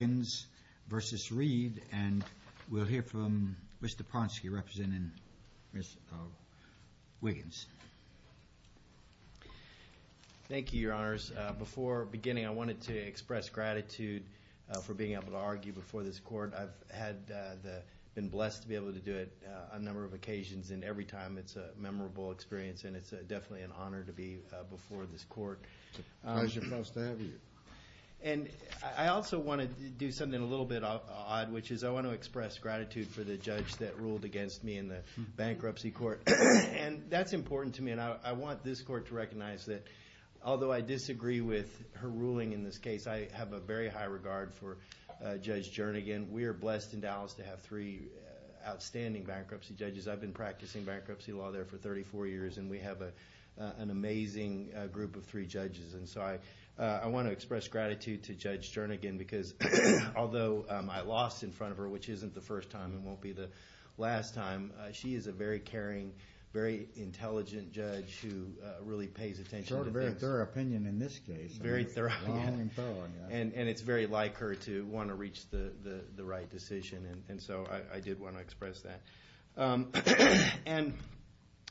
and we'll hear from Mr. Ponsky representing Ms. Wiggins. Thank you, Your Honors. Before beginning, I wanted to express gratitude for being able to argue before this court. I've been blessed to be able to do it on a number of occasions, and every time it's a memorable experience, and it's definitely an honor to be before this court. It's a pleasure and a blessing to have you. And I also want to do something a little bit odd, which is I want to express gratitude for the judge that ruled against me in the bankruptcy court. And that's important to me, and I want this court to recognize that although I disagree with her ruling in this case, I have a very high regard for Judge Jernigan. We are blessed in Dallas to have three outstanding bankruptcy judges. I've been practicing bankruptcy law there for 34 years, and we have an amazing group of three judges. And so I want to express gratitude to Judge Jernigan because although I lost in front of her, which isn't the first time and won't be the last time, she is a very caring, very intelligent judge who really pays attention to things. She's got a very thorough opinion in this case. Very thorough, and it's very like her to want to reach the right decision, and so I did want to express that. And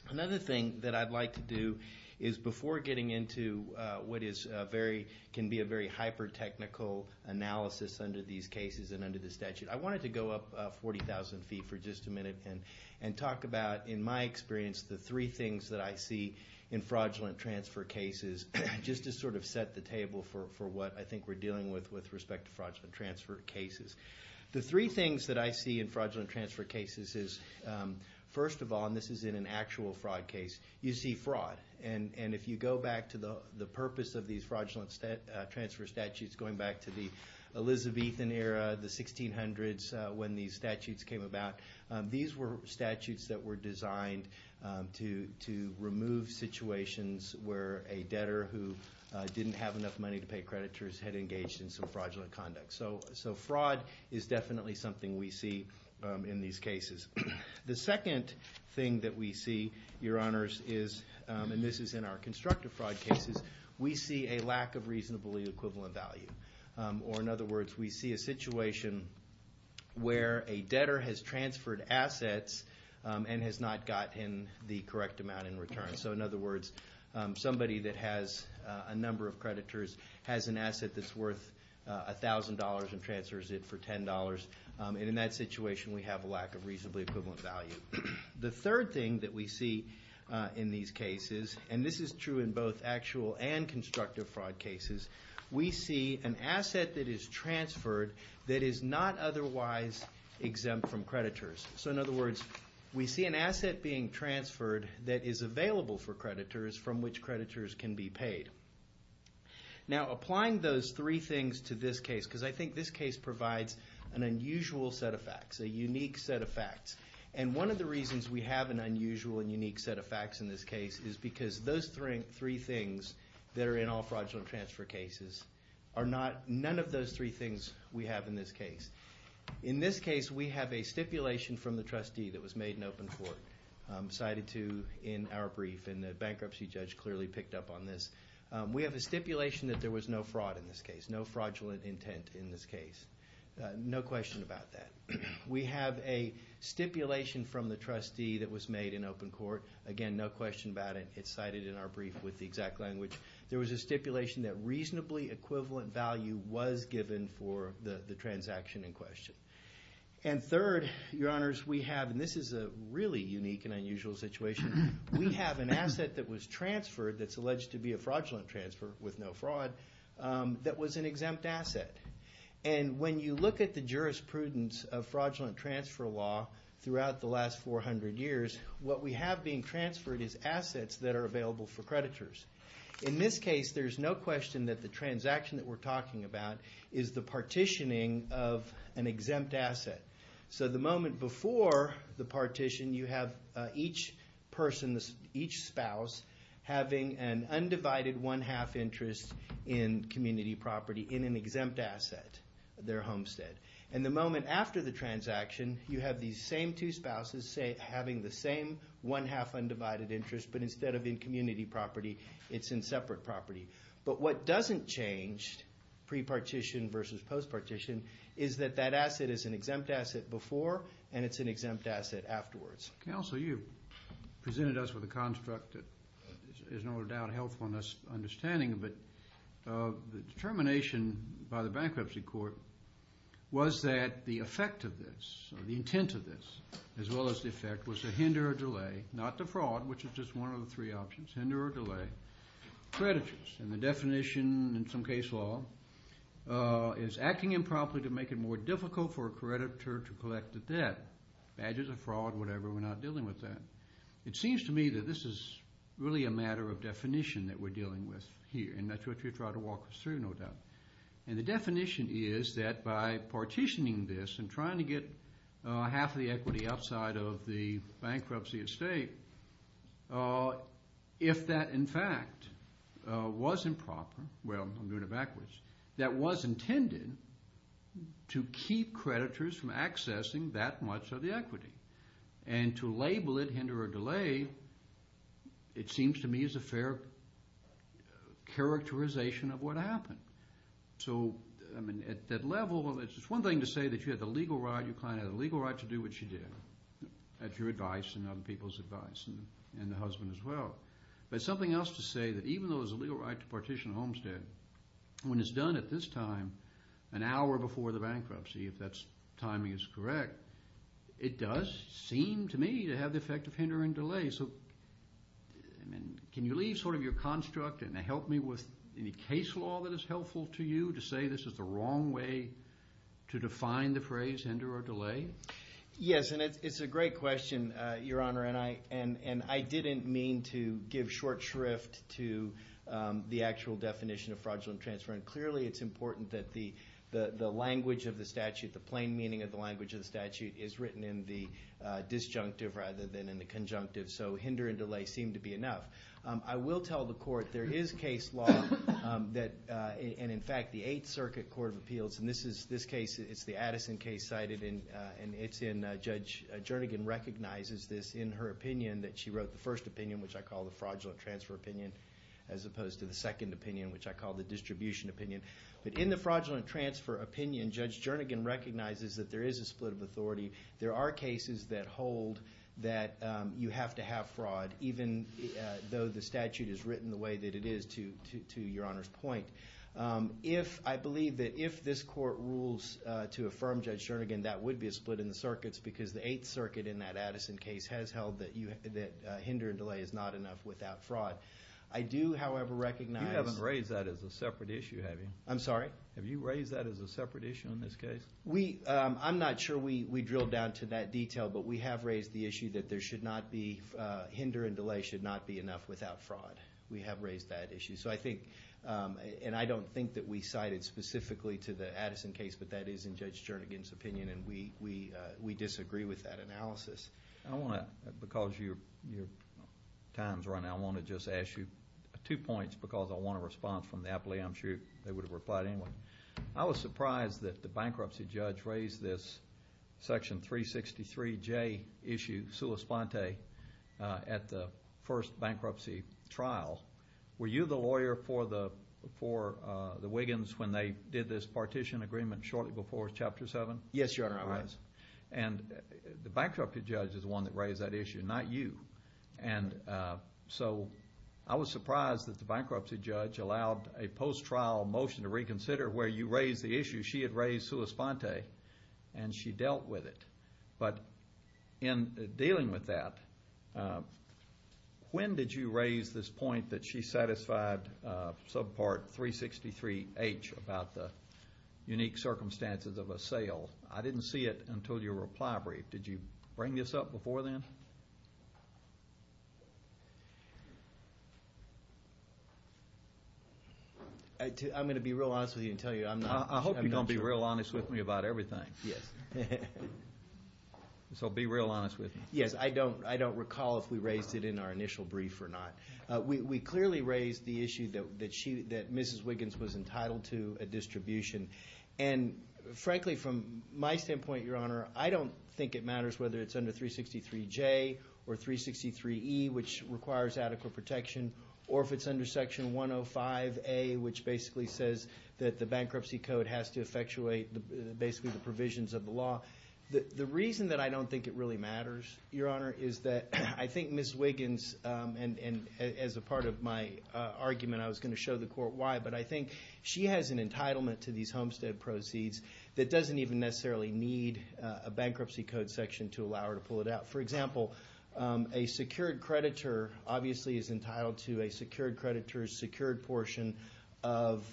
another thing that I'd like to do is before getting into what can be a very hyper-technical analysis under these cases and under the statute, I wanted to go up 40,000 feet for just a minute and talk about, in my experience, the three things that I see in fraudulent transfer cases just to sort of set the table for what I think we're dealing with with respect to fraudulent transfer cases. The three things that I see in fraudulent transfer cases is, first of all, and this is in an actual fraud case, you see fraud. And if you go back to the purpose of these fraudulent transfer statutes going back to the Elizabethan era, the 1600s when these statutes came about, these were statutes that were designed to remove situations where a debtor who didn't have enough money to pay creditors had engaged in some fraudulent conduct. So fraud is definitely something we see in these cases. The second thing that we see, Your Honors, is, and this is in our constructive fraud cases, we see a lack of reasonably equivalent value. Or in other words, we see a situation where a debtor has transferred assets and has not gotten the correct amount in return. So in other words, somebody that has a number of creditors has an asset that's worth $1,000 and transfers it for $10. And in that situation, we have a lack of reasonably equivalent value. The third thing that we see in these cases, and this is true in both actual and constructive fraud cases, we see an asset that is transferred that is not otherwise exempt from creditors. So in other words, we see an asset being transferred that is available for creditors from which creditors can be paid. Now, applying those three things to this case, because I think this case provides an unusual set of facts, a unique set of facts. And one of the reasons we have an unusual and unique set of facts in this case is because those three things that are in all fraudulent transfer cases are not, none of those three things we have in this case. In this case, we have a stipulation from the trustee that was made in open court, cited to in our brief, and the bankruptcy judge clearly picked up on this. We have a stipulation that there was no fraud in this case, no fraudulent intent in this case. No question about that. We have a stipulation from the trustee that was made in open court. Again, no question about it. It's cited in our brief with the exact language. There was a stipulation that reasonably equivalent value was given for the transaction in question. And third, Your Honors, we have, and this is a really unique and unusual situation, we have an asset that was transferred that's alleged to be a fraudulent transfer with no fraud that was an exempt asset. And when you look at the jurisprudence of fraudulent transfer law throughout the last 400 years, what we have being transferred is assets that are available for creditors. In this case, there's no question that the transaction that we're talking about is the partitioning of an exempt asset. So the moment before the partition, you have each person, each spouse, having an undivided one-half interest in community property in an exempt asset, their homestead. And the moment after the transaction, you have these same two spouses having the same one-half undivided interest, but instead of in community property, it's in separate property. But what doesn't change, pre-partition versus post-partition, is that that asset is an exempt asset before and it's an exempt asset afterwards. Counsel, you presented us with a construct that is no doubt helpful in us understanding, but the determination by the bankruptcy court was that the effect of this or the intent of this, as well as the effect, was to hinder or delay, not to fraud, which is just one of the three options, hinder or delay creditors. And the definition in some case law is acting improperly to make it more difficult for a creditor to collect the debt. Badges of fraud, whatever, we're not dealing with that. It seems to me that this is really a matter of definition that we're dealing with here, and that's what you're trying to walk us through, no doubt. And the definition is that by partitioning this and trying to get half of the equity outside of the bankruptcy estate, if that, in fact, was improper, well, I'm doing it backwards, that was intended to keep creditors from accessing that much of the equity and to label it, hinder or delay, it seems to me is a fair characterization of what happened. So, I mean, at that level, it's just one thing to say that you had the legal right, you kind of had the legal right to do what you did at your advice and other people's advice and the husband as well. But something else to say that even though there's a legal right to partition a homestead, when it's done at this time, an hour before the bankruptcy, if that timing is correct, it does seem to me to have the effect of hindering delay. So, I mean, can you leave sort of your construct and help me with any case law that is helpful to you to say this is the wrong way to define the phrase hinder or delay? Yes, and it's a great question, Your Honor, and I didn't mean to give short shrift to the actual definition of fraudulent transfer. Clearly, it's important that the language of the statute, the plain meaning of the language of the statute, is written in the disjunctive rather than in the conjunctive. So, hinder and delay seem to be enough. I will tell the court there is case law that, and in fact, the Eighth Circuit Court of Appeals, and this case, it's the Addison case cited, and it's in Judge Jernigan recognizes this in her opinion that she wrote the first opinion, which I call the fraudulent transfer opinion, as opposed to the second opinion, which I call the distribution opinion. But in the fraudulent transfer opinion, Judge Jernigan recognizes that there is a split of authority. There are cases that hold that you have to have fraud, even though the statute is written the way that it is, to Your Honor's point. I believe that if this court rules to affirm Judge Jernigan, that would be a split in the circuits because the Eighth Circuit in that Addison case has held that hinder and delay is not enough without fraud. I do, however, recognize— You haven't raised that as a separate issue, have you? I'm sorry? Have you raised that as a separate issue in this case? We—I'm not sure we drilled down to that detail, but we have raised the issue that there should not be—hinder and delay should not be enough without fraud. We have raised that issue. So I think—and I don't think that we cited specifically to the Addison case, I want to—because your time is running, I want to just ask you two points because I want a response from the appellee. I'm sure they would have replied anyway. I was surprised that the bankruptcy judge raised this Section 363J issue, sua sponte, at the first bankruptcy trial. Were you the lawyer for the Wiggins when they did this partition agreement shortly before Chapter 7? Yes, Your Honor, I was. And the bankruptcy judge is the one that raised that issue, not you. And so I was surprised that the bankruptcy judge allowed a post-trial motion to reconsider where you raised the issue. She had raised sua sponte, and she dealt with it. But in dealing with that, when did you raise this point that she satisfied subpart 363H about the unique circumstances of a sale? I didn't see it until your reply brief. Did you bring this up before then? I'm going to be real honest with you and tell you I'm not— I hope you're going to be real honest with me about everything. Yes. So be real honest with me. Yes, I don't recall if we raised it in our initial brief or not. We clearly raised the issue that Mrs. Wiggins was entitled to a distribution. And frankly, from my standpoint, Your Honor, I don't think it matters whether it's under 363J or 363E, which requires adequate protection, or if it's under Section 105A, which basically says that the bankruptcy code has to effectuate basically the provisions of the law. The reason that I don't think it really matters, Your Honor, is that I think Mrs. Wiggins— as a part of my argument, I was going to show the court why, but I think she has an entitlement to these homestead proceeds that doesn't even necessarily need a bankruptcy code section to allow her to pull it out. For example, a secured creditor obviously is entitled to a secured creditor's secured portion of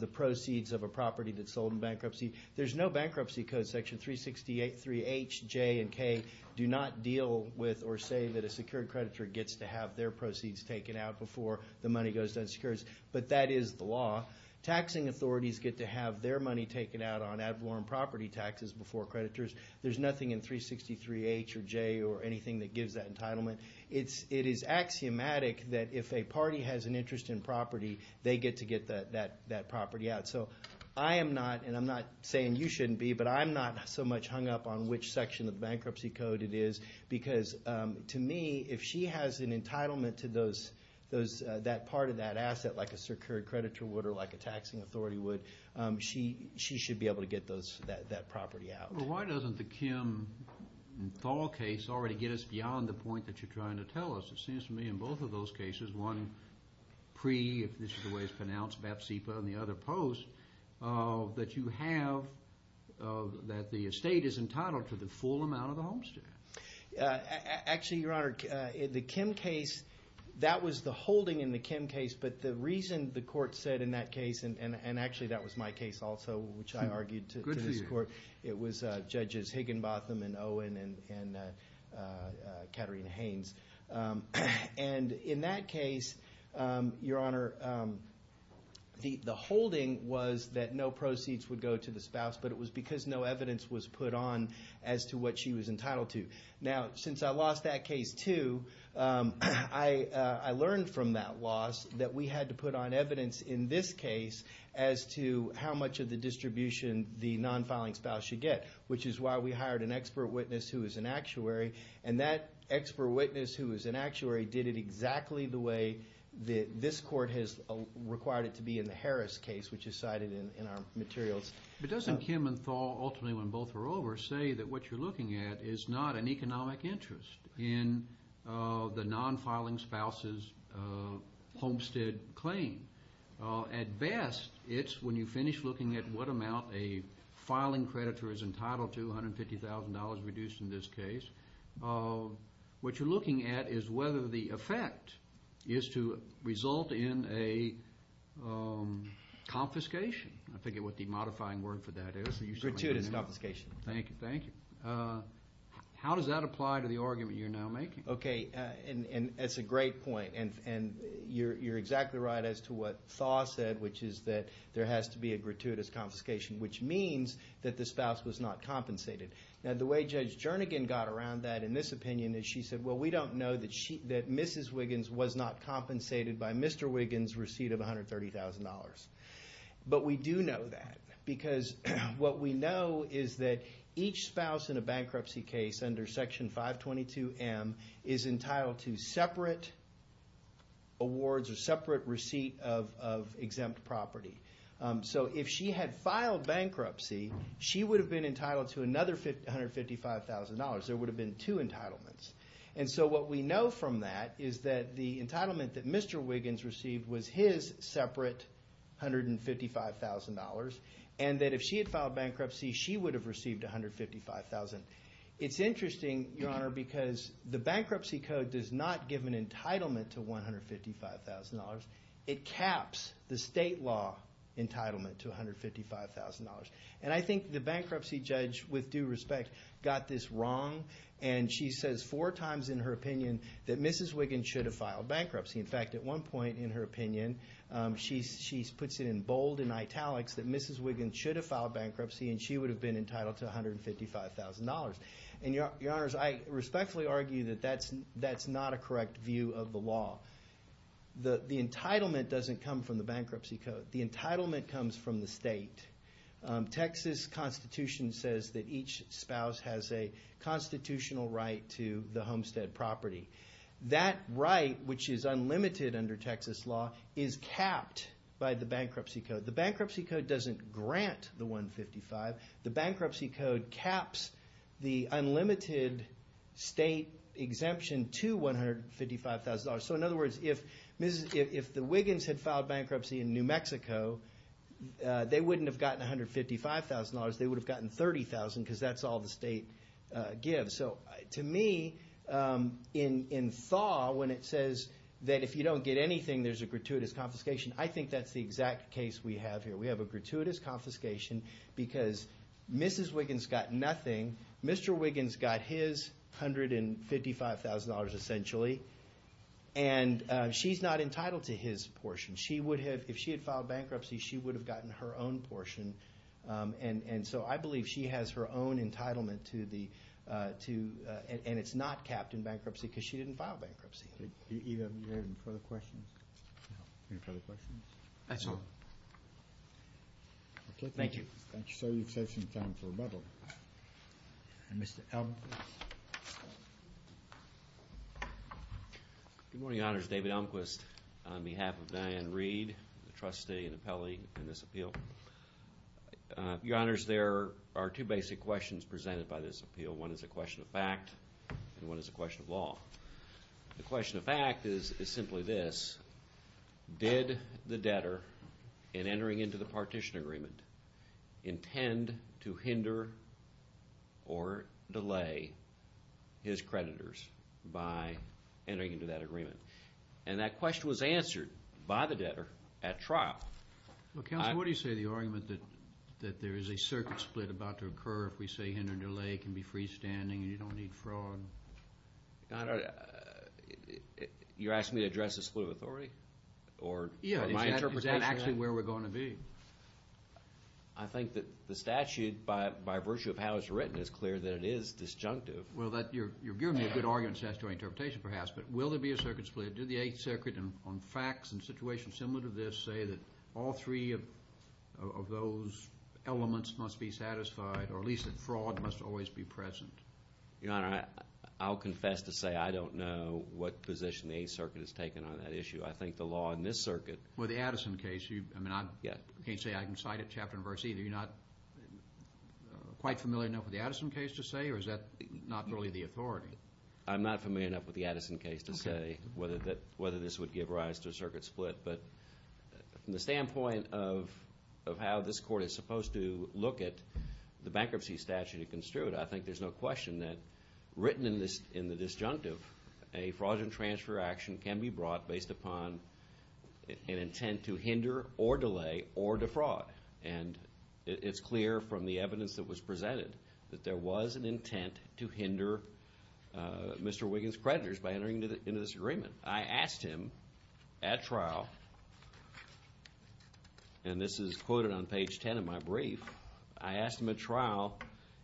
the proceeds of a property that's sold in bankruptcy. There's no bankruptcy code section. 363H, J, and K do not deal with or say that a secured creditor gets to have their proceeds taken out before the money goes to unsecureds, but that is the law. Taxing authorities get to have their money taken out on ad valorem property taxes before creditors. There's nothing in 363H or J or anything that gives that entitlement. It is axiomatic that if a party has an interest in property, they get to get that property out. So I am not—and I'm not saying you shouldn't be, but I'm not so much hung up on which section of the bankruptcy code it is because, to me, if she has an entitlement to that part of that asset like a secured creditor would or like a taxing authority would, she should be able to get that property out. Well, why doesn't the Kim and Thal case already get us beyond the point that you're trying to tell us? It seems to me in both of those cases, one pre, if this is the way it's pronounced, BAP-SIPA and the other post, that you have—that the estate is entitled to the full amount of the homestead. Actually, Your Honor, the Kim case, that was the holding in the Kim case, but the reason the court said in that case, and actually that was my case also which I argued to this court. Good for you. It was Judges Higginbotham and Owen and Katerina Haynes. And in that case, Your Honor, the holding was that no proceeds would go to the spouse, but it was because no evidence was put on as to what she was entitled to. Now, since I lost that case too, I learned from that loss that we had to put on evidence in this case as to how much of the distribution the non-filing spouse should get, which is why we hired an expert witness who is an actuary, and that expert witness who is an actuary did it exactly the way that this court has required it to be in the Harris case, which is cited in our materials. But doesn't Kim and Thal, ultimately when both are over, say that what you're looking at is not an economic interest in the non-filing spouse's homestead claim? At best, it's when you finish looking at what amount a filing creditor is entitled to, $150,000 reduced in this case. What you're looking at is whether the effect is to result in a confiscation. I forget what the modifying word for that is. Gratuitous confiscation. Thank you. How does that apply to the argument you're now making? Okay. And it's a great point. And you're exactly right as to what Thal said, which is that there has to be a gratuitous confiscation, which means that the spouse was not compensated. Now, the way Judge Jernigan got around that in this opinion is she said, well, we don't know that Mrs. Wiggins was not compensated by Mr. Wiggins' receipt of $130,000. But we do know that because what we know is that each spouse in a bankruptcy case under Section 522M is entitled to separate awards or separate receipt of exempt property. So if she had filed bankruptcy, she would have been entitled to another $155,000. There would have been two entitlements. And so what we know from that is that the entitlement that Mr. Wiggins received was his separate $155,000, and that if she had filed bankruptcy, she would have received $155,000. It's interesting, Your Honor, because the bankruptcy code does not give an entitlement to $155,000. It caps the state law entitlement to $155,000. And I think the bankruptcy judge, with due respect, got this wrong. And she says four times in her opinion that Mrs. Wiggins should have filed bankruptcy. In fact, at one point in her opinion, she puts it in bold and italics that Mrs. Wiggins should have filed bankruptcy and she would have been entitled to $155,000. And, Your Honors, I respectfully argue that that's not a correct view of the law. The entitlement doesn't come from the bankruptcy code. The entitlement comes from the state. Texas Constitution says that each spouse has a constitutional right to the homestead property. That right, which is unlimited under Texas law, is capped by the bankruptcy code. The bankruptcy code doesn't grant the $155,000. The bankruptcy code caps the unlimited state exemption to $155,000. So, in other words, if the Wiggins had filed bankruptcy in New Mexico, they wouldn't have gotten $155,000. They would have gotten $30,000 because that's all the state gives. So, to me, in thaw, when it says that if you don't get anything, there's a gratuitous confiscation, I think that's the exact case we have here. We have a gratuitous confiscation because Mrs. Wiggins got nothing. Mr. Wiggins got his $155,000, essentially, and she's not entitled to his portion. She would have, if she had filed bankruptcy, she would have gotten her own portion. And so I believe she has her own entitlement to the, and it's not capped in bankruptcy because she didn't file bankruptcy. Do you have any further questions? No. Any further questions? That's all. Thank you. Thank you, sir. You've saved some time for rebuttal. Mr. Elmquist. Good morning, Your Honors. David Elmquist on behalf of Diane Reed, the trustee and appellee in this appeal. Your Honors, there are two basic questions presented by this appeal. One is a question of fact and one is a question of law. The question of fact is simply this. Did the debtor, in entering into the partition agreement, intend to hinder or delay his creditors by entering into that agreement? And that question was answered by the debtor at trial. Well, counsel, what do you say to the argument that there is a circuit split about to occur if we say hinder and delay can be freestanding and you don't need fraud? Your Honor, you're asking me to address the split of authority? Yeah. Or my interpretation of that? Is that actually where we're going to be? I think that the statute, by virtue of how it's written, is clear that it is disjunctive. Well, you're giving me a good argument to answer your interpretation, perhaps. But will there be a circuit split? Did the Eighth Circuit, on facts and situations similar to this, say that all three of those elements must be satisfied or at least that fraud must always be present? Your Honor, I'll confess to say I don't know what position the Eighth Circuit has taken on that issue. I think the law in this circuit. Well, the Addison case, I mean, I can't say I can cite it chapter and verse either. You're not quite familiar enough with the Addison case to say, or is that not really the authority? I'm not familiar enough with the Addison case to say whether this would give rise to a circuit split. But from the standpoint of how this Court is supposed to look at the bankruptcy statute in construed, I think there's no question that, written in the disjunctive, a fraud and transfer action can be brought based upon an intent to hinder or delay or defraud. And it's clear from the evidence that was presented that there was an intent to hinder Mr. Wiggins' creditors by entering into this agreement. I asked him at trial, and this is quoted on page 10 of my brief. I asked him at trial,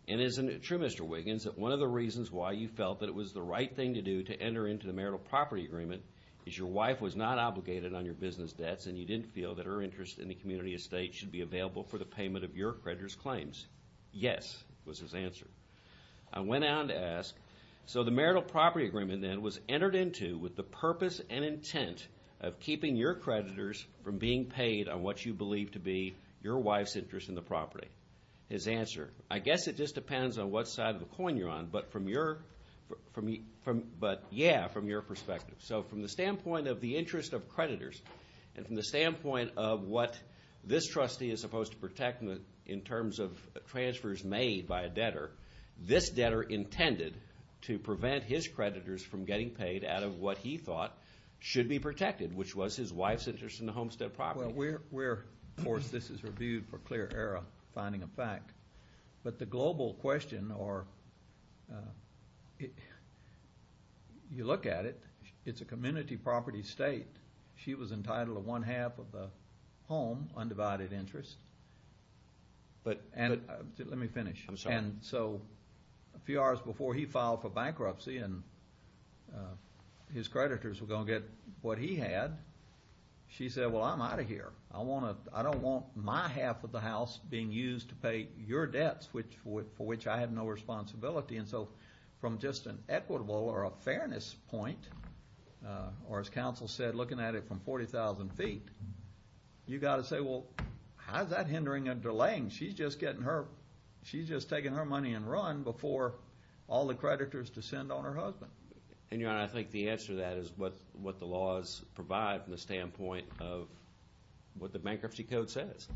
and is it true, Mr. Wiggins, that one of the reasons why you felt that it was the right thing to do to enter into the marital property agreement is your wife was not obligated on your business debts and you didn't feel that her interest in the community estate should be available for the payment of your creditors' claims? Yes, was his answer. I went on to ask, so the marital property agreement then was entered into with the purpose and intent of keeping your creditors from being paid on what you believe to be your wife's interest in the property? His answer, I guess it just depends on what side of the coin you're on, but yeah, from your perspective. So from the standpoint of the interest of creditors and from the standpoint of what this trustee is supposed to protect in terms of transfers made by a debtor, this debtor intended to prevent his creditors from getting paid out of what he thought should be protected, which was his wife's interest in the homestead property. Well, we're, of course, this is reviewed for clear error, finding a fact. But the global question, or you look at it, it's a community property estate. She was entitled to one half of the home, undivided interest. But let me finish. I'm sorry. And so a few hours before he filed for bankruptcy and his creditors were going to get what he had, she said, well, I'm out of here. I don't want my half of the house being used to pay your debts, for which I have no responsibility. And so from just an equitable or a fairness point, or as counsel said, looking at it from 40,000 feet, you've got to say, well, how is that hindering or delaying? She's just getting her ‑‑ she's just taking her money and running before all the creditors descend on her husband. And, Your Honor, I think the answer to that is what the laws provide from the standpoint of what the bankruptcy code says.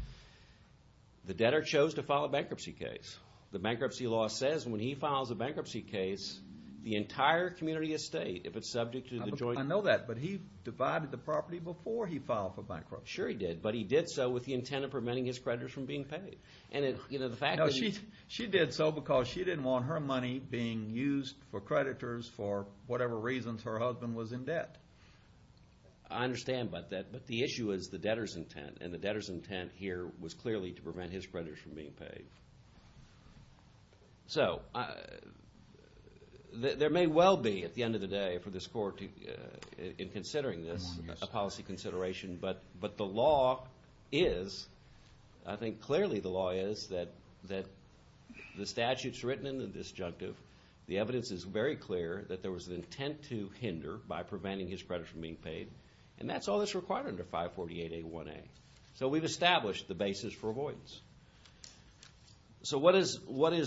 The debtor chose to file a bankruptcy case. The bankruptcy law says when he files a bankruptcy case, the entire community estate, if it's subject to the joint ‑‑ I know that. But he divided the property before he filed for bankruptcy. Sure, he did. But he did so with the intent of preventing his creditors from being paid. And, you know, the fact that he ‑‑ No, she did so because she didn't want her money being used for creditors for whatever reasons her husband was in debt. I understand, but the issue is the debtor's intent. And the debtor's intent here was clearly to prevent his creditors from being paid. So there may well be, at the end of the day, for this court, in considering this, a policy consideration. But the law is, I think clearly the law is, that the statute's written in the disjunctive. The evidence is very clear that there was an intent to hinder by preventing his creditors from being paid. And that's all that's required under 548A1A. So we've established the basis for avoidance. So what does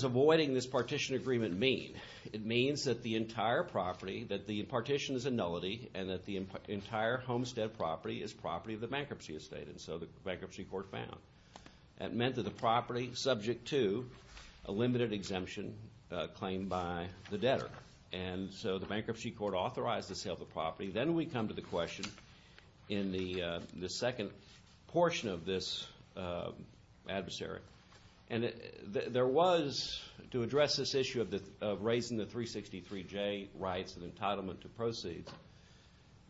avoiding this partition agreement mean? It means that the entire property, that the partition is a nullity, and that the entire homestead property is property of the bankruptcy estate. And so the bankruptcy court found. That meant that the property, subject to a limited exemption claimed by the debtor. And so the bankruptcy court authorized the sale of the property. Then we come to the question in the second portion of this adversary. And there was, to address this issue of raising the 363J rights and entitlement to proceeds,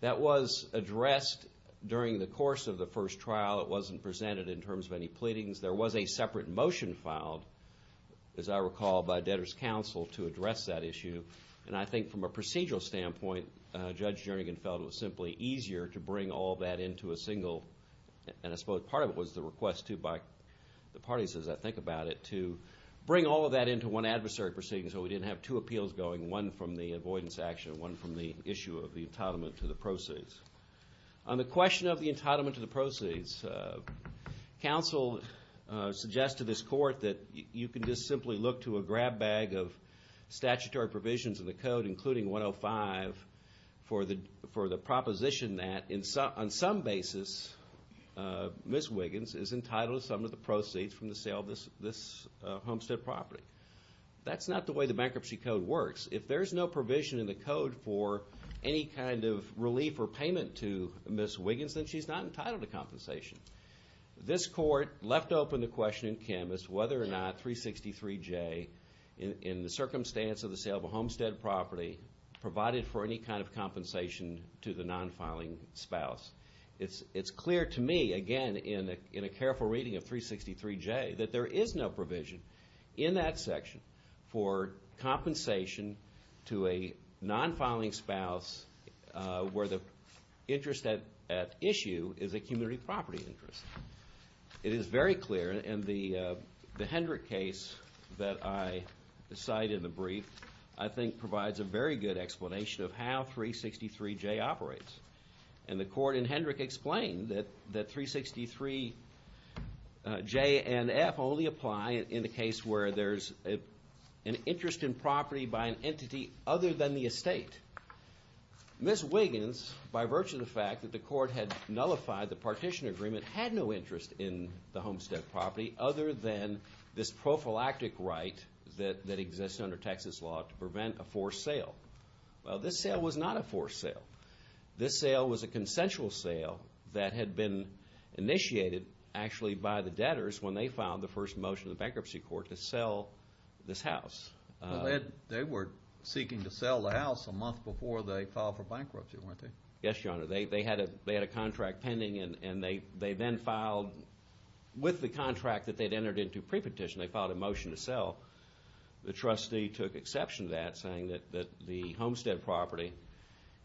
that was addressed during the course of the first trial. It wasn't presented in terms of any pleadings. There was a separate motion filed, as I recall, by debtor's counsel to address that issue. And I think from a procedural standpoint, Judge Jernigan felt it was simply easier to bring all that into a single. And I suppose part of it was the request, too, by the parties, as I think about it, to bring all of that into one adversary proceeding so we didn't have two appeals going, one from the avoidance action and one from the issue of the entitlement to the proceeds. On the question of the entitlement to the proceeds, counsel suggested to this court that you can just simply look to a grab bag of statutory provisions in the code, including 105 for the proposition that, on some basis, Ms. Wiggins is entitled to some of the proceeds from the sale of this homestead property. That's not the way the bankruptcy code works. If there's no provision in the code for any kind of relief or payment to Ms. Wiggins, then she's not entitled to compensation. This court left open the question in Canvas whether or not 363J, in the circumstance of the sale of a homestead property, provided for any kind of compensation to the non-filing spouse. It's clear to me, again, in a careful reading of 363J, that there is no provision in that section for compensation to a non-filing spouse where the interest at issue is a community property interest. It is very clear, and the Hendrick case that I cite in the brief, I think provides a very good explanation of how 363J operates. And the court in Hendrick explained that 363J and F only apply in the case where there's an interest in property by an entity other than the estate. Ms. Wiggins, by virtue of the fact that the court had nullified the partition agreement, had no interest in the homestead property other than this prophylactic right that exists under Texas law to prevent a forced sale. Well, this sale was not a forced sale. This sale was a consensual sale that had been initiated, actually, by the debtors when they filed the first motion in the bankruptcy court to sell this house. They were seeking to sell the house a month before they filed for bankruptcy, weren't they? Yes, Your Honor. They had a contract pending, and they then filed with the contract that they'd entered into pre-petition. They filed a motion to sell. The trustee took exception to that, saying that the homestead property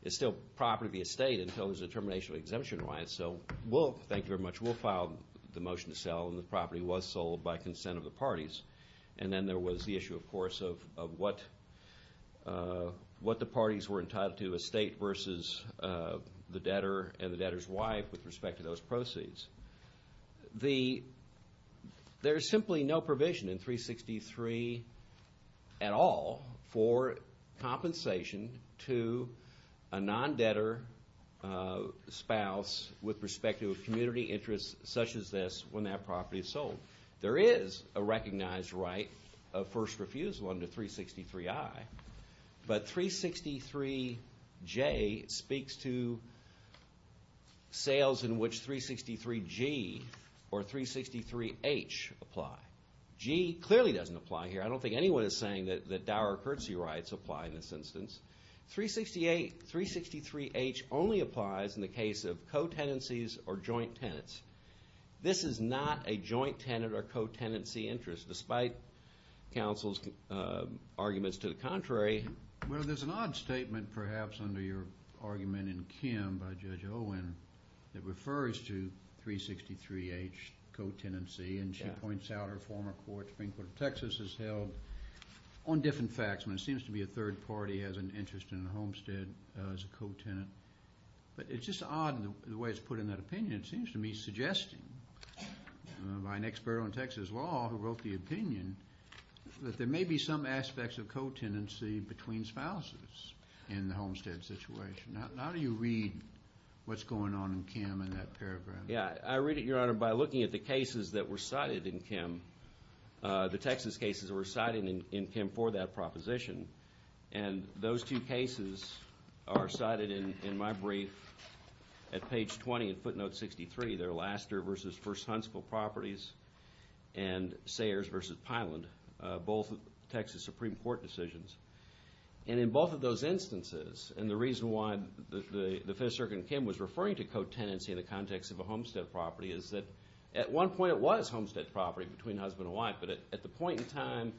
is still property of the estate until there's a termination of the exemption right. So we'll thank you very much. We'll file the motion to sell, and the property was sold by consent of the parties. And then there was the issue, of course, of what the parties were entitled to, estate versus the debtor and the debtor's wife with respect to those proceeds. There's simply no provision in 363 at all for compensation to a non-debtor spouse with respect to a community interest such as this when that property is sold. There is a recognized right of first refusal under 363i, but 363j speaks to sales in which 363g or 363h apply. g clearly doesn't apply here. I don't think anyone is saying that dower curtsy rights apply in this instance. 363h only applies in the case of co-tenancies or joint tenants. This is not a joint tenant or co-tenancy interest, despite counsel's arguments to the contrary. Well, there's an odd statement perhaps under your argument in Kim by Judge Owen that refers to 363h co-tenancy, and she points out her former court, Supreme Court of Texas, has held on different facts when it seems to be a third party has an interest in a homestead as a co-tenant. But it's just odd the way it's put in that opinion. It seems to me suggesting by an expert on Texas law who wrote the opinion that there may be some aspects of co-tenancy between spouses in the homestead situation. How do you read what's going on in Kim in that paragraph? Yeah. I read it, Your Honor, by looking at the cases that were cited in Kim, the Texas cases that were cited in Kim for that proposition. And those two cases are cited in my brief at page 20 in footnote 63. They're Laster v. First Huntsville Properties and Sayers v. Pyland, both Texas Supreme Court decisions. And in both of those instances, and the reason why the Fifth Circuit in Kim was referring to co-tenancy in the context of a homestead property is that at one point it was homestead property between husband and wife, but at the point in time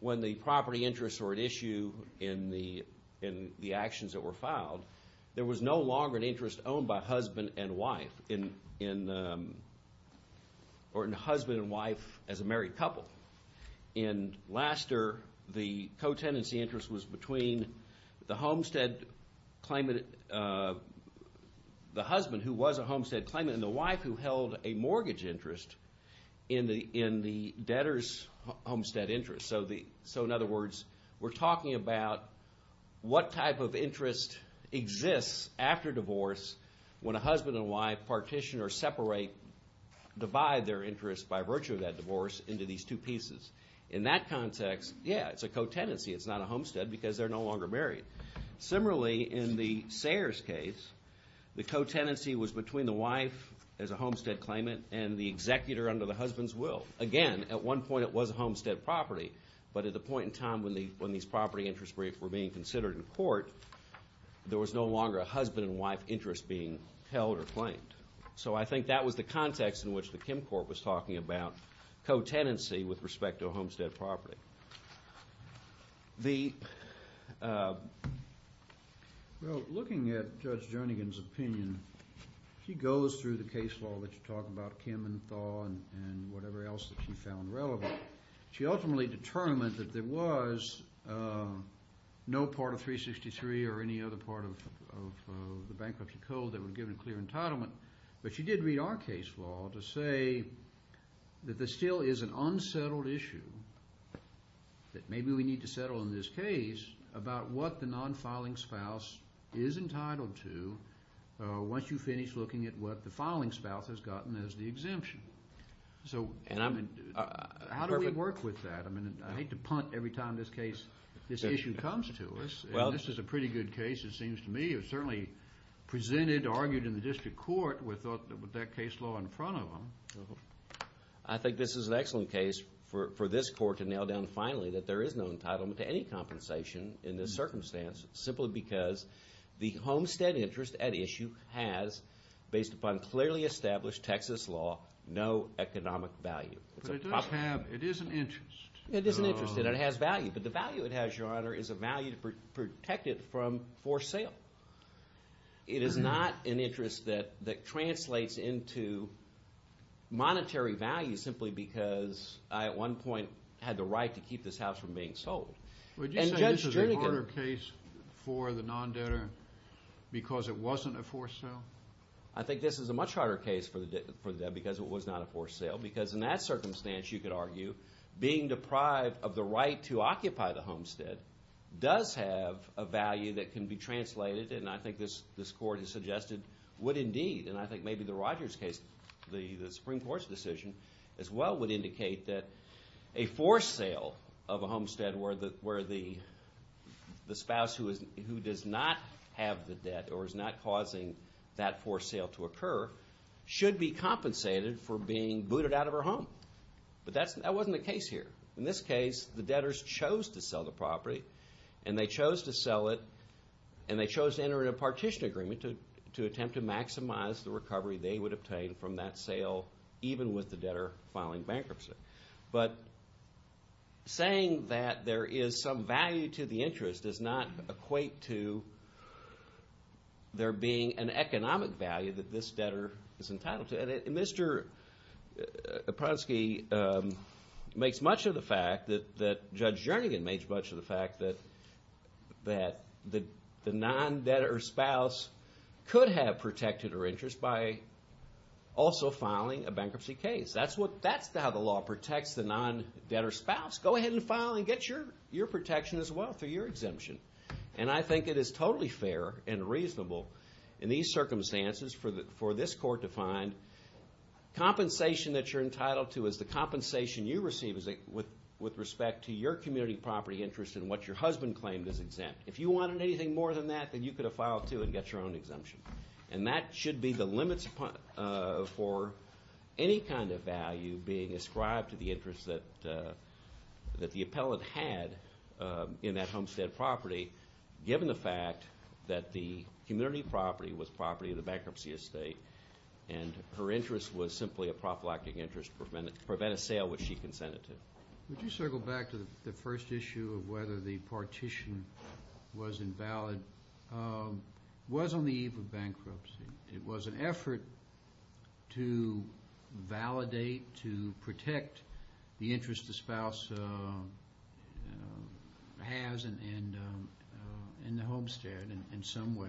when the property interests were at issue in the actions that were filed, there was no longer an interest owned by husband and wife as a married couple. In Laster, the co-tenancy interest was between the homestead claimant, the husband who was a homestead claimant and the wife who held a mortgage interest in the debtor's homestead interest. So in other words, we're talking about what type of interest exists after divorce when a husband and wife partition or separate, divide their interest by virtue of that divorce into these two pieces. In that context, yeah, it's a co-tenancy. It's not a homestead because they're no longer married. Similarly, in the Sayers case, the co-tenancy was between the wife as a homestead claimant and the executor under the husband's will. Again, at one point it was a homestead property, but at the point in time when these property interests were being considered in court, there was no longer a husband and wife interest being held or claimed. So I think that was the context in which the Kim court was talking about co-tenancy with respect to a homestead property. Well, looking at Judge Jernigan's opinion, she goes through the case law that you talk about, Kim and Thaw and whatever else that she found relevant. She ultimately determined that there was no part of 363 or any other part of the bankruptcy code that would give a clear entitlement, but she did read our case law to say that there still is an unsettled issue that maybe we need to settle in this case about what the non-filing spouse is entitled to once you finish looking at what the filing spouse has gotten as the exemption. So how do we work with that? I mean, I hate to punt every time this issue comes to us. This is a pretty good case, it seems to me. This issue is certainly presented or argued in the district court with that case law in front of them. I think this is an excellent case for this court to nail down finally that there is no entitlement to any compensation in this circumstance simply because the homestead interest at issue has, based upon clearly established Texas law, no economic value. But it does have, it is an interest. It is an interest and it has value, but the value it has, Your Honor, is a value to protect it from forced sale. It is not an interest that translates into monetary value simply because I at one point had the right to keep this house from being sold. Would you say this is a harder case for the non-debtor because it wasn't a forced sale? I think this is a much harder case for the debtor because it was not a forced sale because in that circumstance, you could argue, being deprived of the right to occupy the homestead does have a value that can be translated, and I think this court has suggested would indeed, and I think maybe the Rogers case, the Supreme Court's decision as well, would indicate that a forced sale of a homestead where the spouse who does not have the debt or is not causing that forced sale to occur should be compensated for being booted out of her home. But that wasn't the case here. In this case, the debtors chose to sell the property and they chose to enter in a partition agreement to attempt to maximize the recovery they would obtain from that sale even with the debtor filing bankruptcy. But saying that there is some value to the interest does not equate to there being an economic value that this debtor is entitled to. And Mr. Epronsky makes much of the fact that Judge Jernigan makes much of the fact that the non-debtor spouse could have protected her interest by also filing a bankruptcy case. That's how the law protects the non-debtor spouse. Go ahead and file and get your protection as well through your exemption. And I think it is totally fair and reasonable in these circumstances for this court to find compensation that you're entitled to is the compensation you receive with respect to your community property interest and what your husband claimed is exempt. If you wanted anything more than that, then you could have filed too and got your own exemption. And that should be the limits for any kind of value being ascribed to the interest that the appellant had in that homestead property given the fact that the community property was property of the bankruptcy estate and her interest was simply a prophylactic interest to prevent a sale which she consented to. Would you circle back to the first issue of whether the partition was invalid? It was on the eve of bankruptcy. It was an effort to validate, to protect the interest the spouse has in the homestead in some way.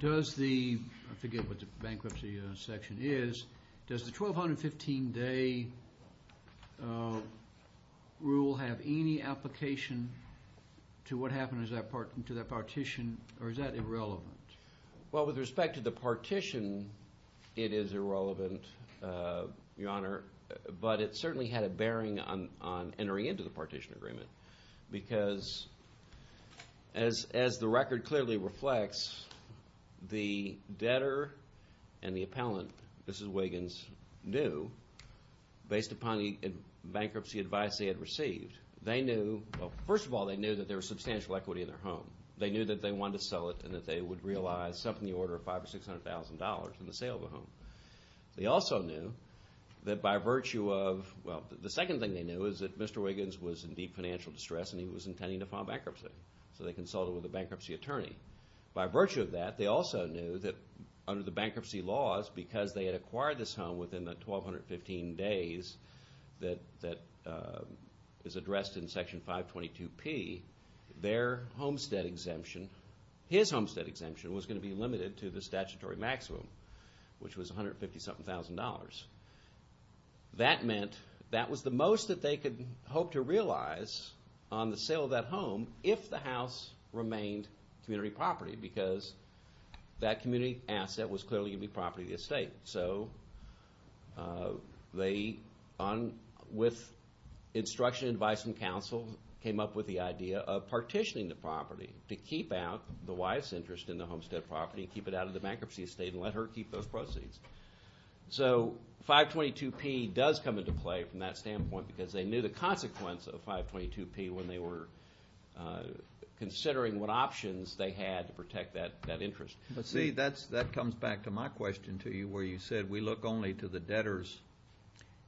Does the, I forget what the bankruptcy section is, does the 1,215-day rule have any application to what happened to that partition or is that irrelevant? Well, with respect to the partition, it is irrelevant, Your Honor, but it certainly had a bearing on entering into the partition agreement because as the record clearly reflects, the debtor and the appellant, Mrs. Wiggins, knew based upon the bankruptcy advice they had received, they knew, well, first of all, they knew that there was substantial equity in their home. They knew that they wanted to sell it and that they would realize something in the order of $500,000 or $600,000 in the sale of the home. They also knew that by virtue of, well, the second thing they knew is that Mr. Wiggins was in deep financial distress and he was intending to file bankruptcy, so they consulted with the bankruptcy attorney. By virtue of that, they also knew that under the bankruptcy laws, because they had acquired this home within the 1,215 days that is addressed in Section 522P, their homestead exemption, his homestead exemption, was going to be limited to the statutory maximum, which was $157,000. That meant that was the most that they could hope to realize on the sale of that home if the house remained community property because that community asset was clearly going to be property of the estate. So they, with instruction, advice, and counsel, came up with the idea of partitioning the property to keep out the wife's interest in the homestead property and keep it out of the bankruptcy estate and let her keep those proceeds. So 522P does come into play from that standpoint because they knew the consequence of 522P when they were considering what options they had to protect that interest. See, that comes back to my question to you where you said we look only to the debtor's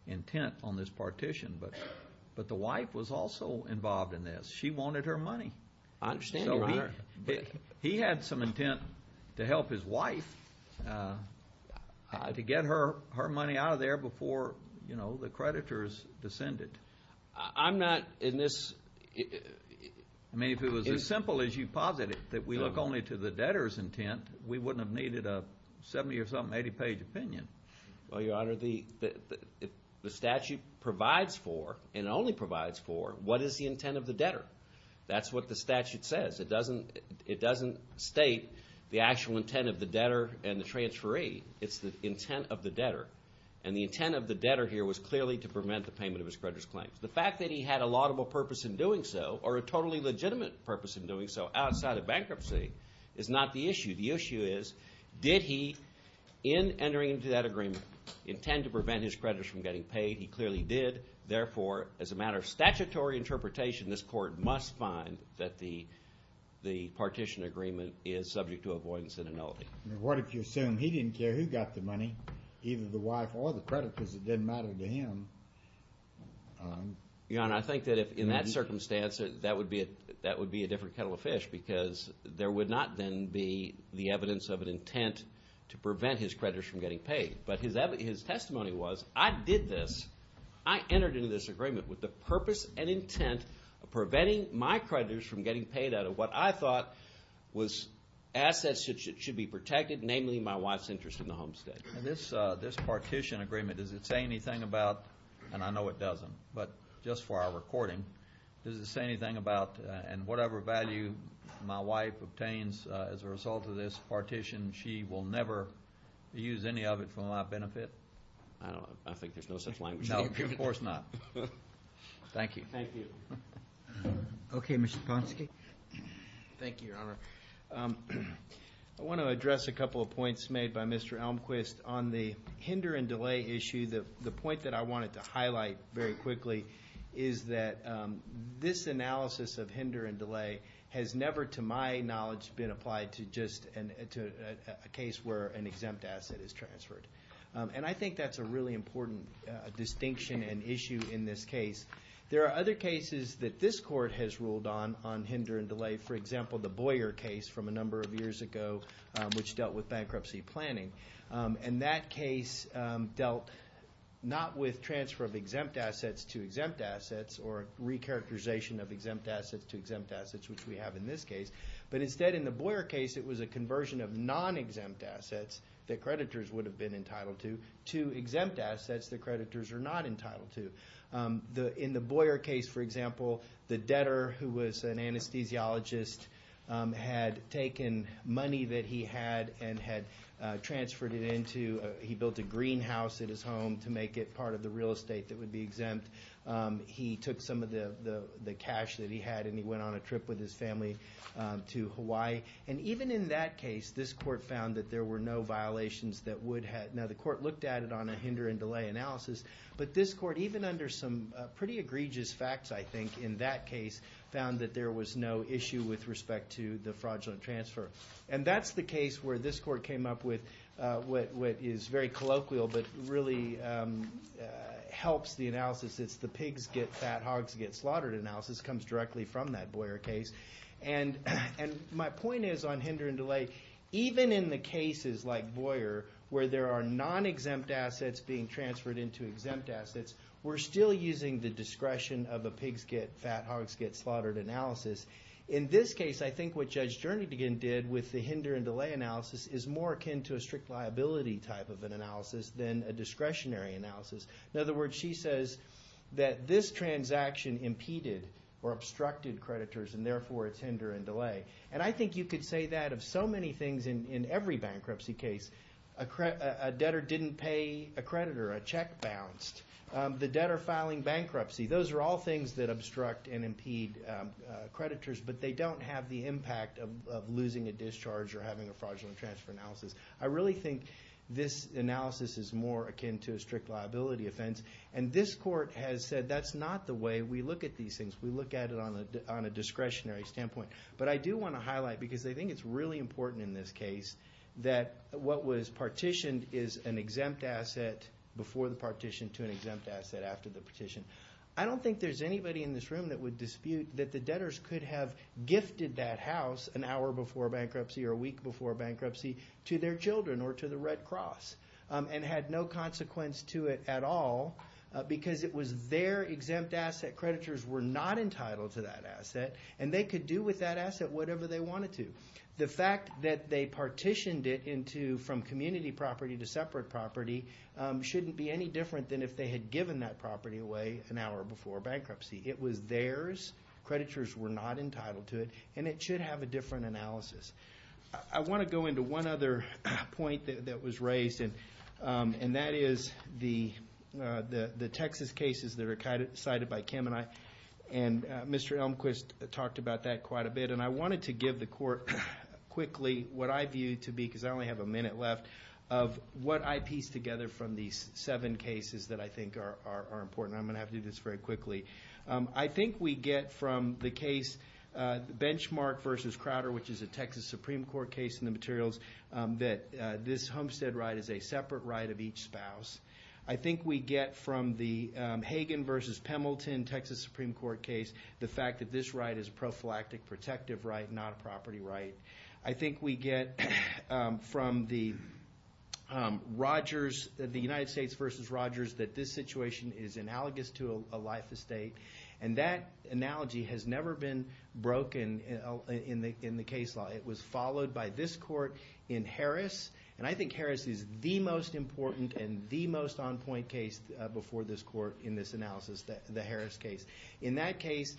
intent on this partition, but the wife was also involved in this. She wanted her money. I understand, Your Honor. He had some intent to help his wife to get her money out of there before, you know, the creditors descended. I'm not in this. I mean, if it was as simple as you posit it, that we look only to the debtor's intent, we wouldn't have needed a 70-or-something, 80-page opinion. Well, Your Honor, the statute provides for and only provides for what is the intent of the debtor. That's what the statute says. It doesn't state the actual intent of the debtor and the transferee. It's the intent of the debtor, and the intent of the debtor here was clearly to prevent the payment of his creditors' claims. The fact that he had a laudable purpose in doing so or a totally legitimate purpose in doing so outside of bankruptcy is not the issue. The issue is, did he, in entering into that agreement, intend to prevent his creditors from getting paid? He clearly did. Therefore, as a matter of statutory interpretation, this Court must find that the partition agreement is subject to avoidance and annulment. What if you assume he didn't care who got the money, either the wife or the creditors? It didn't matter to him. Your Honor, I think that in that circumstance, that would be a different kettle of fish because there would not then be the evidence of an intent to prevent his creditors from getting paid. But his testimony was, I did this. I entered into this agreement with the purpose and intent of preventing my creditors from getting paid out of what I thought was assets that should be protected, namely my wife's interest in the homestead. This partition agreement, does it say anything about, and I know it doesn't, but just for our recording, does it say anything about whatever value my wife obtains as a result of this partition, she will never use any of it for my benefit? I think there's no such language. No, of course not. Thank you. Thank you. Okay, Mr. Ponsky. Thank you, Your Honor. I want to address a couple of points made by Mr. Elmquist. On the hinder and delay issue, the point that I wanted to highlight very quickly is that this analysis of hinder and delay has never, to my knowledge, been applied to just a case where an exempt asset is transferred. And I think that's a really important distinction and issue in this case. There are other cases that this Court has ruled on on hinder and delay, for example, the Boyer case from a number of years ago, which dealt with bankruptcy planning. And that case dealt not with transfer of exempt assets to exempt assets or recharacterization of exempt assets to exempt assets, which we have in this case. But instead, in the Boyer case, it was a conversion of non-exempt assets that creditors would have been entitled to to exempt assets that creditors are not entitled to. In the Boyer case, for example, the debtor who was an anesthesiologist had taken money that he had and had transferred it into, he built a greenhouse at his home to make it part of the real estate that would be exempt. He took some of the cash that he had and he went on a trip with his family to Hawaii. And even in that case, this Court found that there were no violations that would have... Now, the Court looked at it on a hinder and delay analysis, but this Court, even under some pretty egregious facts, I think, in that case, found that there was no issue with respect to the fraudulent transfer. And that's the case where this Court came up with what is very colloquial but really helps the analysis. It's the pigs get fat, hogs get slaughtered analysis. It comes directly from that Boyer case. And my point is on hinder and delay, even in the cases like Boyer, where there are non-exempt assets being transferred into exempt assets, we're still using the discretion of a pigs get fat, hogs get slaughtered analysis. In this case, I think what Judge Jernigan did with the hinder and delay analysis is more akin to a strict liability type of an analysis than a discretionary analysis. In other words, she says that this transaction impeded or obstructed creditors, and therefore it's hinder and delay. And I think you could say that of so many things in every bankruptcy case. A debtor didn't pay a creditor. A check bounced. The debtor filing bankruptcy. Those are all things that obstruct and impede creditors, but they don't have the impact of losing a discharge or having a fraudulent transfer analysis. I really think this analysis is more akin to a strict liability offense. And this court has said that's not the way we look at these things. We look at it on a discretionary standpoint. But I do want to highlight, because I think it's really important in this case, that what was partitioned is an exempt asset before the partition to an exempt asset after the partition. I don't think there's anybody in this room that would dispute that the debtors could have gifted that house an hour before bankruptcy or a week before bankruptcy to their children or to the Red Cross and had no consequence to it at all because it was their exempt asset. Creditors were not entitled to that asset. And they could do with that asset whatever they wanted to. The fact that they partitioned it from community property to separate property shouldn't be any different than if they had given that property away an hour before bankruptcy. It was theirs. Creditors were not entitled to it. And it should have a different analysis. I want to go into one other point that was raised. And that is the Texas cases that are cited by Kim and I. And Mr. Elmquist talked about that quite a bit. And I wanted to give the court quickly what I view to be, because I only have a minute left, of what I piece together from these seven cases that I think are important. I'm going to have to do this very quickly. I think we get from the case Benchmark v. Crowder, which is a Texas Supreme Court case in the materials, that this homestead right is a separate right of each spouse. I think we get from the Hagen v. Pemilton Texas Supreme Court case the fact that this right is a prophylactic protective right, not a property right. I think we get from the Rogers, the United States v. Rogers, that this situation is analogous to a life estate. And that analogy has never been broken in the case law. It was followed by this court in Harris. And I think Harris is the most important and the most on-point case before this court in this analysis, the Harris case. In that case,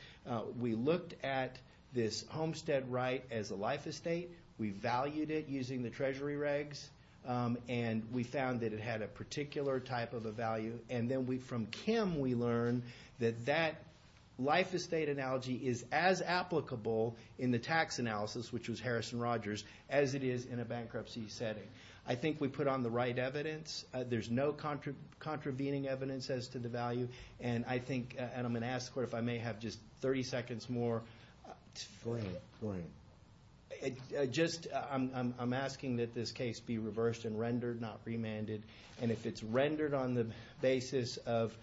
we looked at this homestead right as a life estate. We valued it using the treasury regs. And we found that it had a particular type of a value. And then from Kim we learned that that life estate analogy is as applicable in the tax analysis, which was Harris v. Rogers, as it is in a bankruptcy setting. I think we put on the right evidence. There's no contravening evidence as to the value. And I'm going to ask the court if I may have just 30 seconds more. Go ahead. I'm asking that this case be reversed and rendered, not remanded. And if it's rendered on the basis of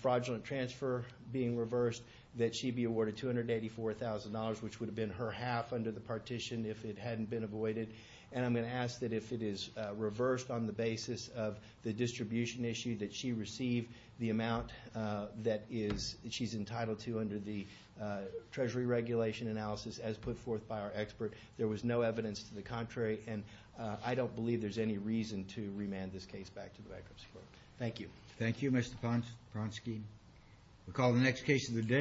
fraudulent transfer being reversed, that she be awarded $284,000, which would have been her half under the partition if it hadn't been avoided. And I'm going to ask that if it is reversed on the basis of the distribution issue, that she receive the amount that she's entitled to under the treasury regulation analysis as put forth by our expert. There was no evidence to the contrary. And I don't believe there's any reason to remand this case back to the bankruptcy court. Thank you. Thank you, Mr. Ponsky.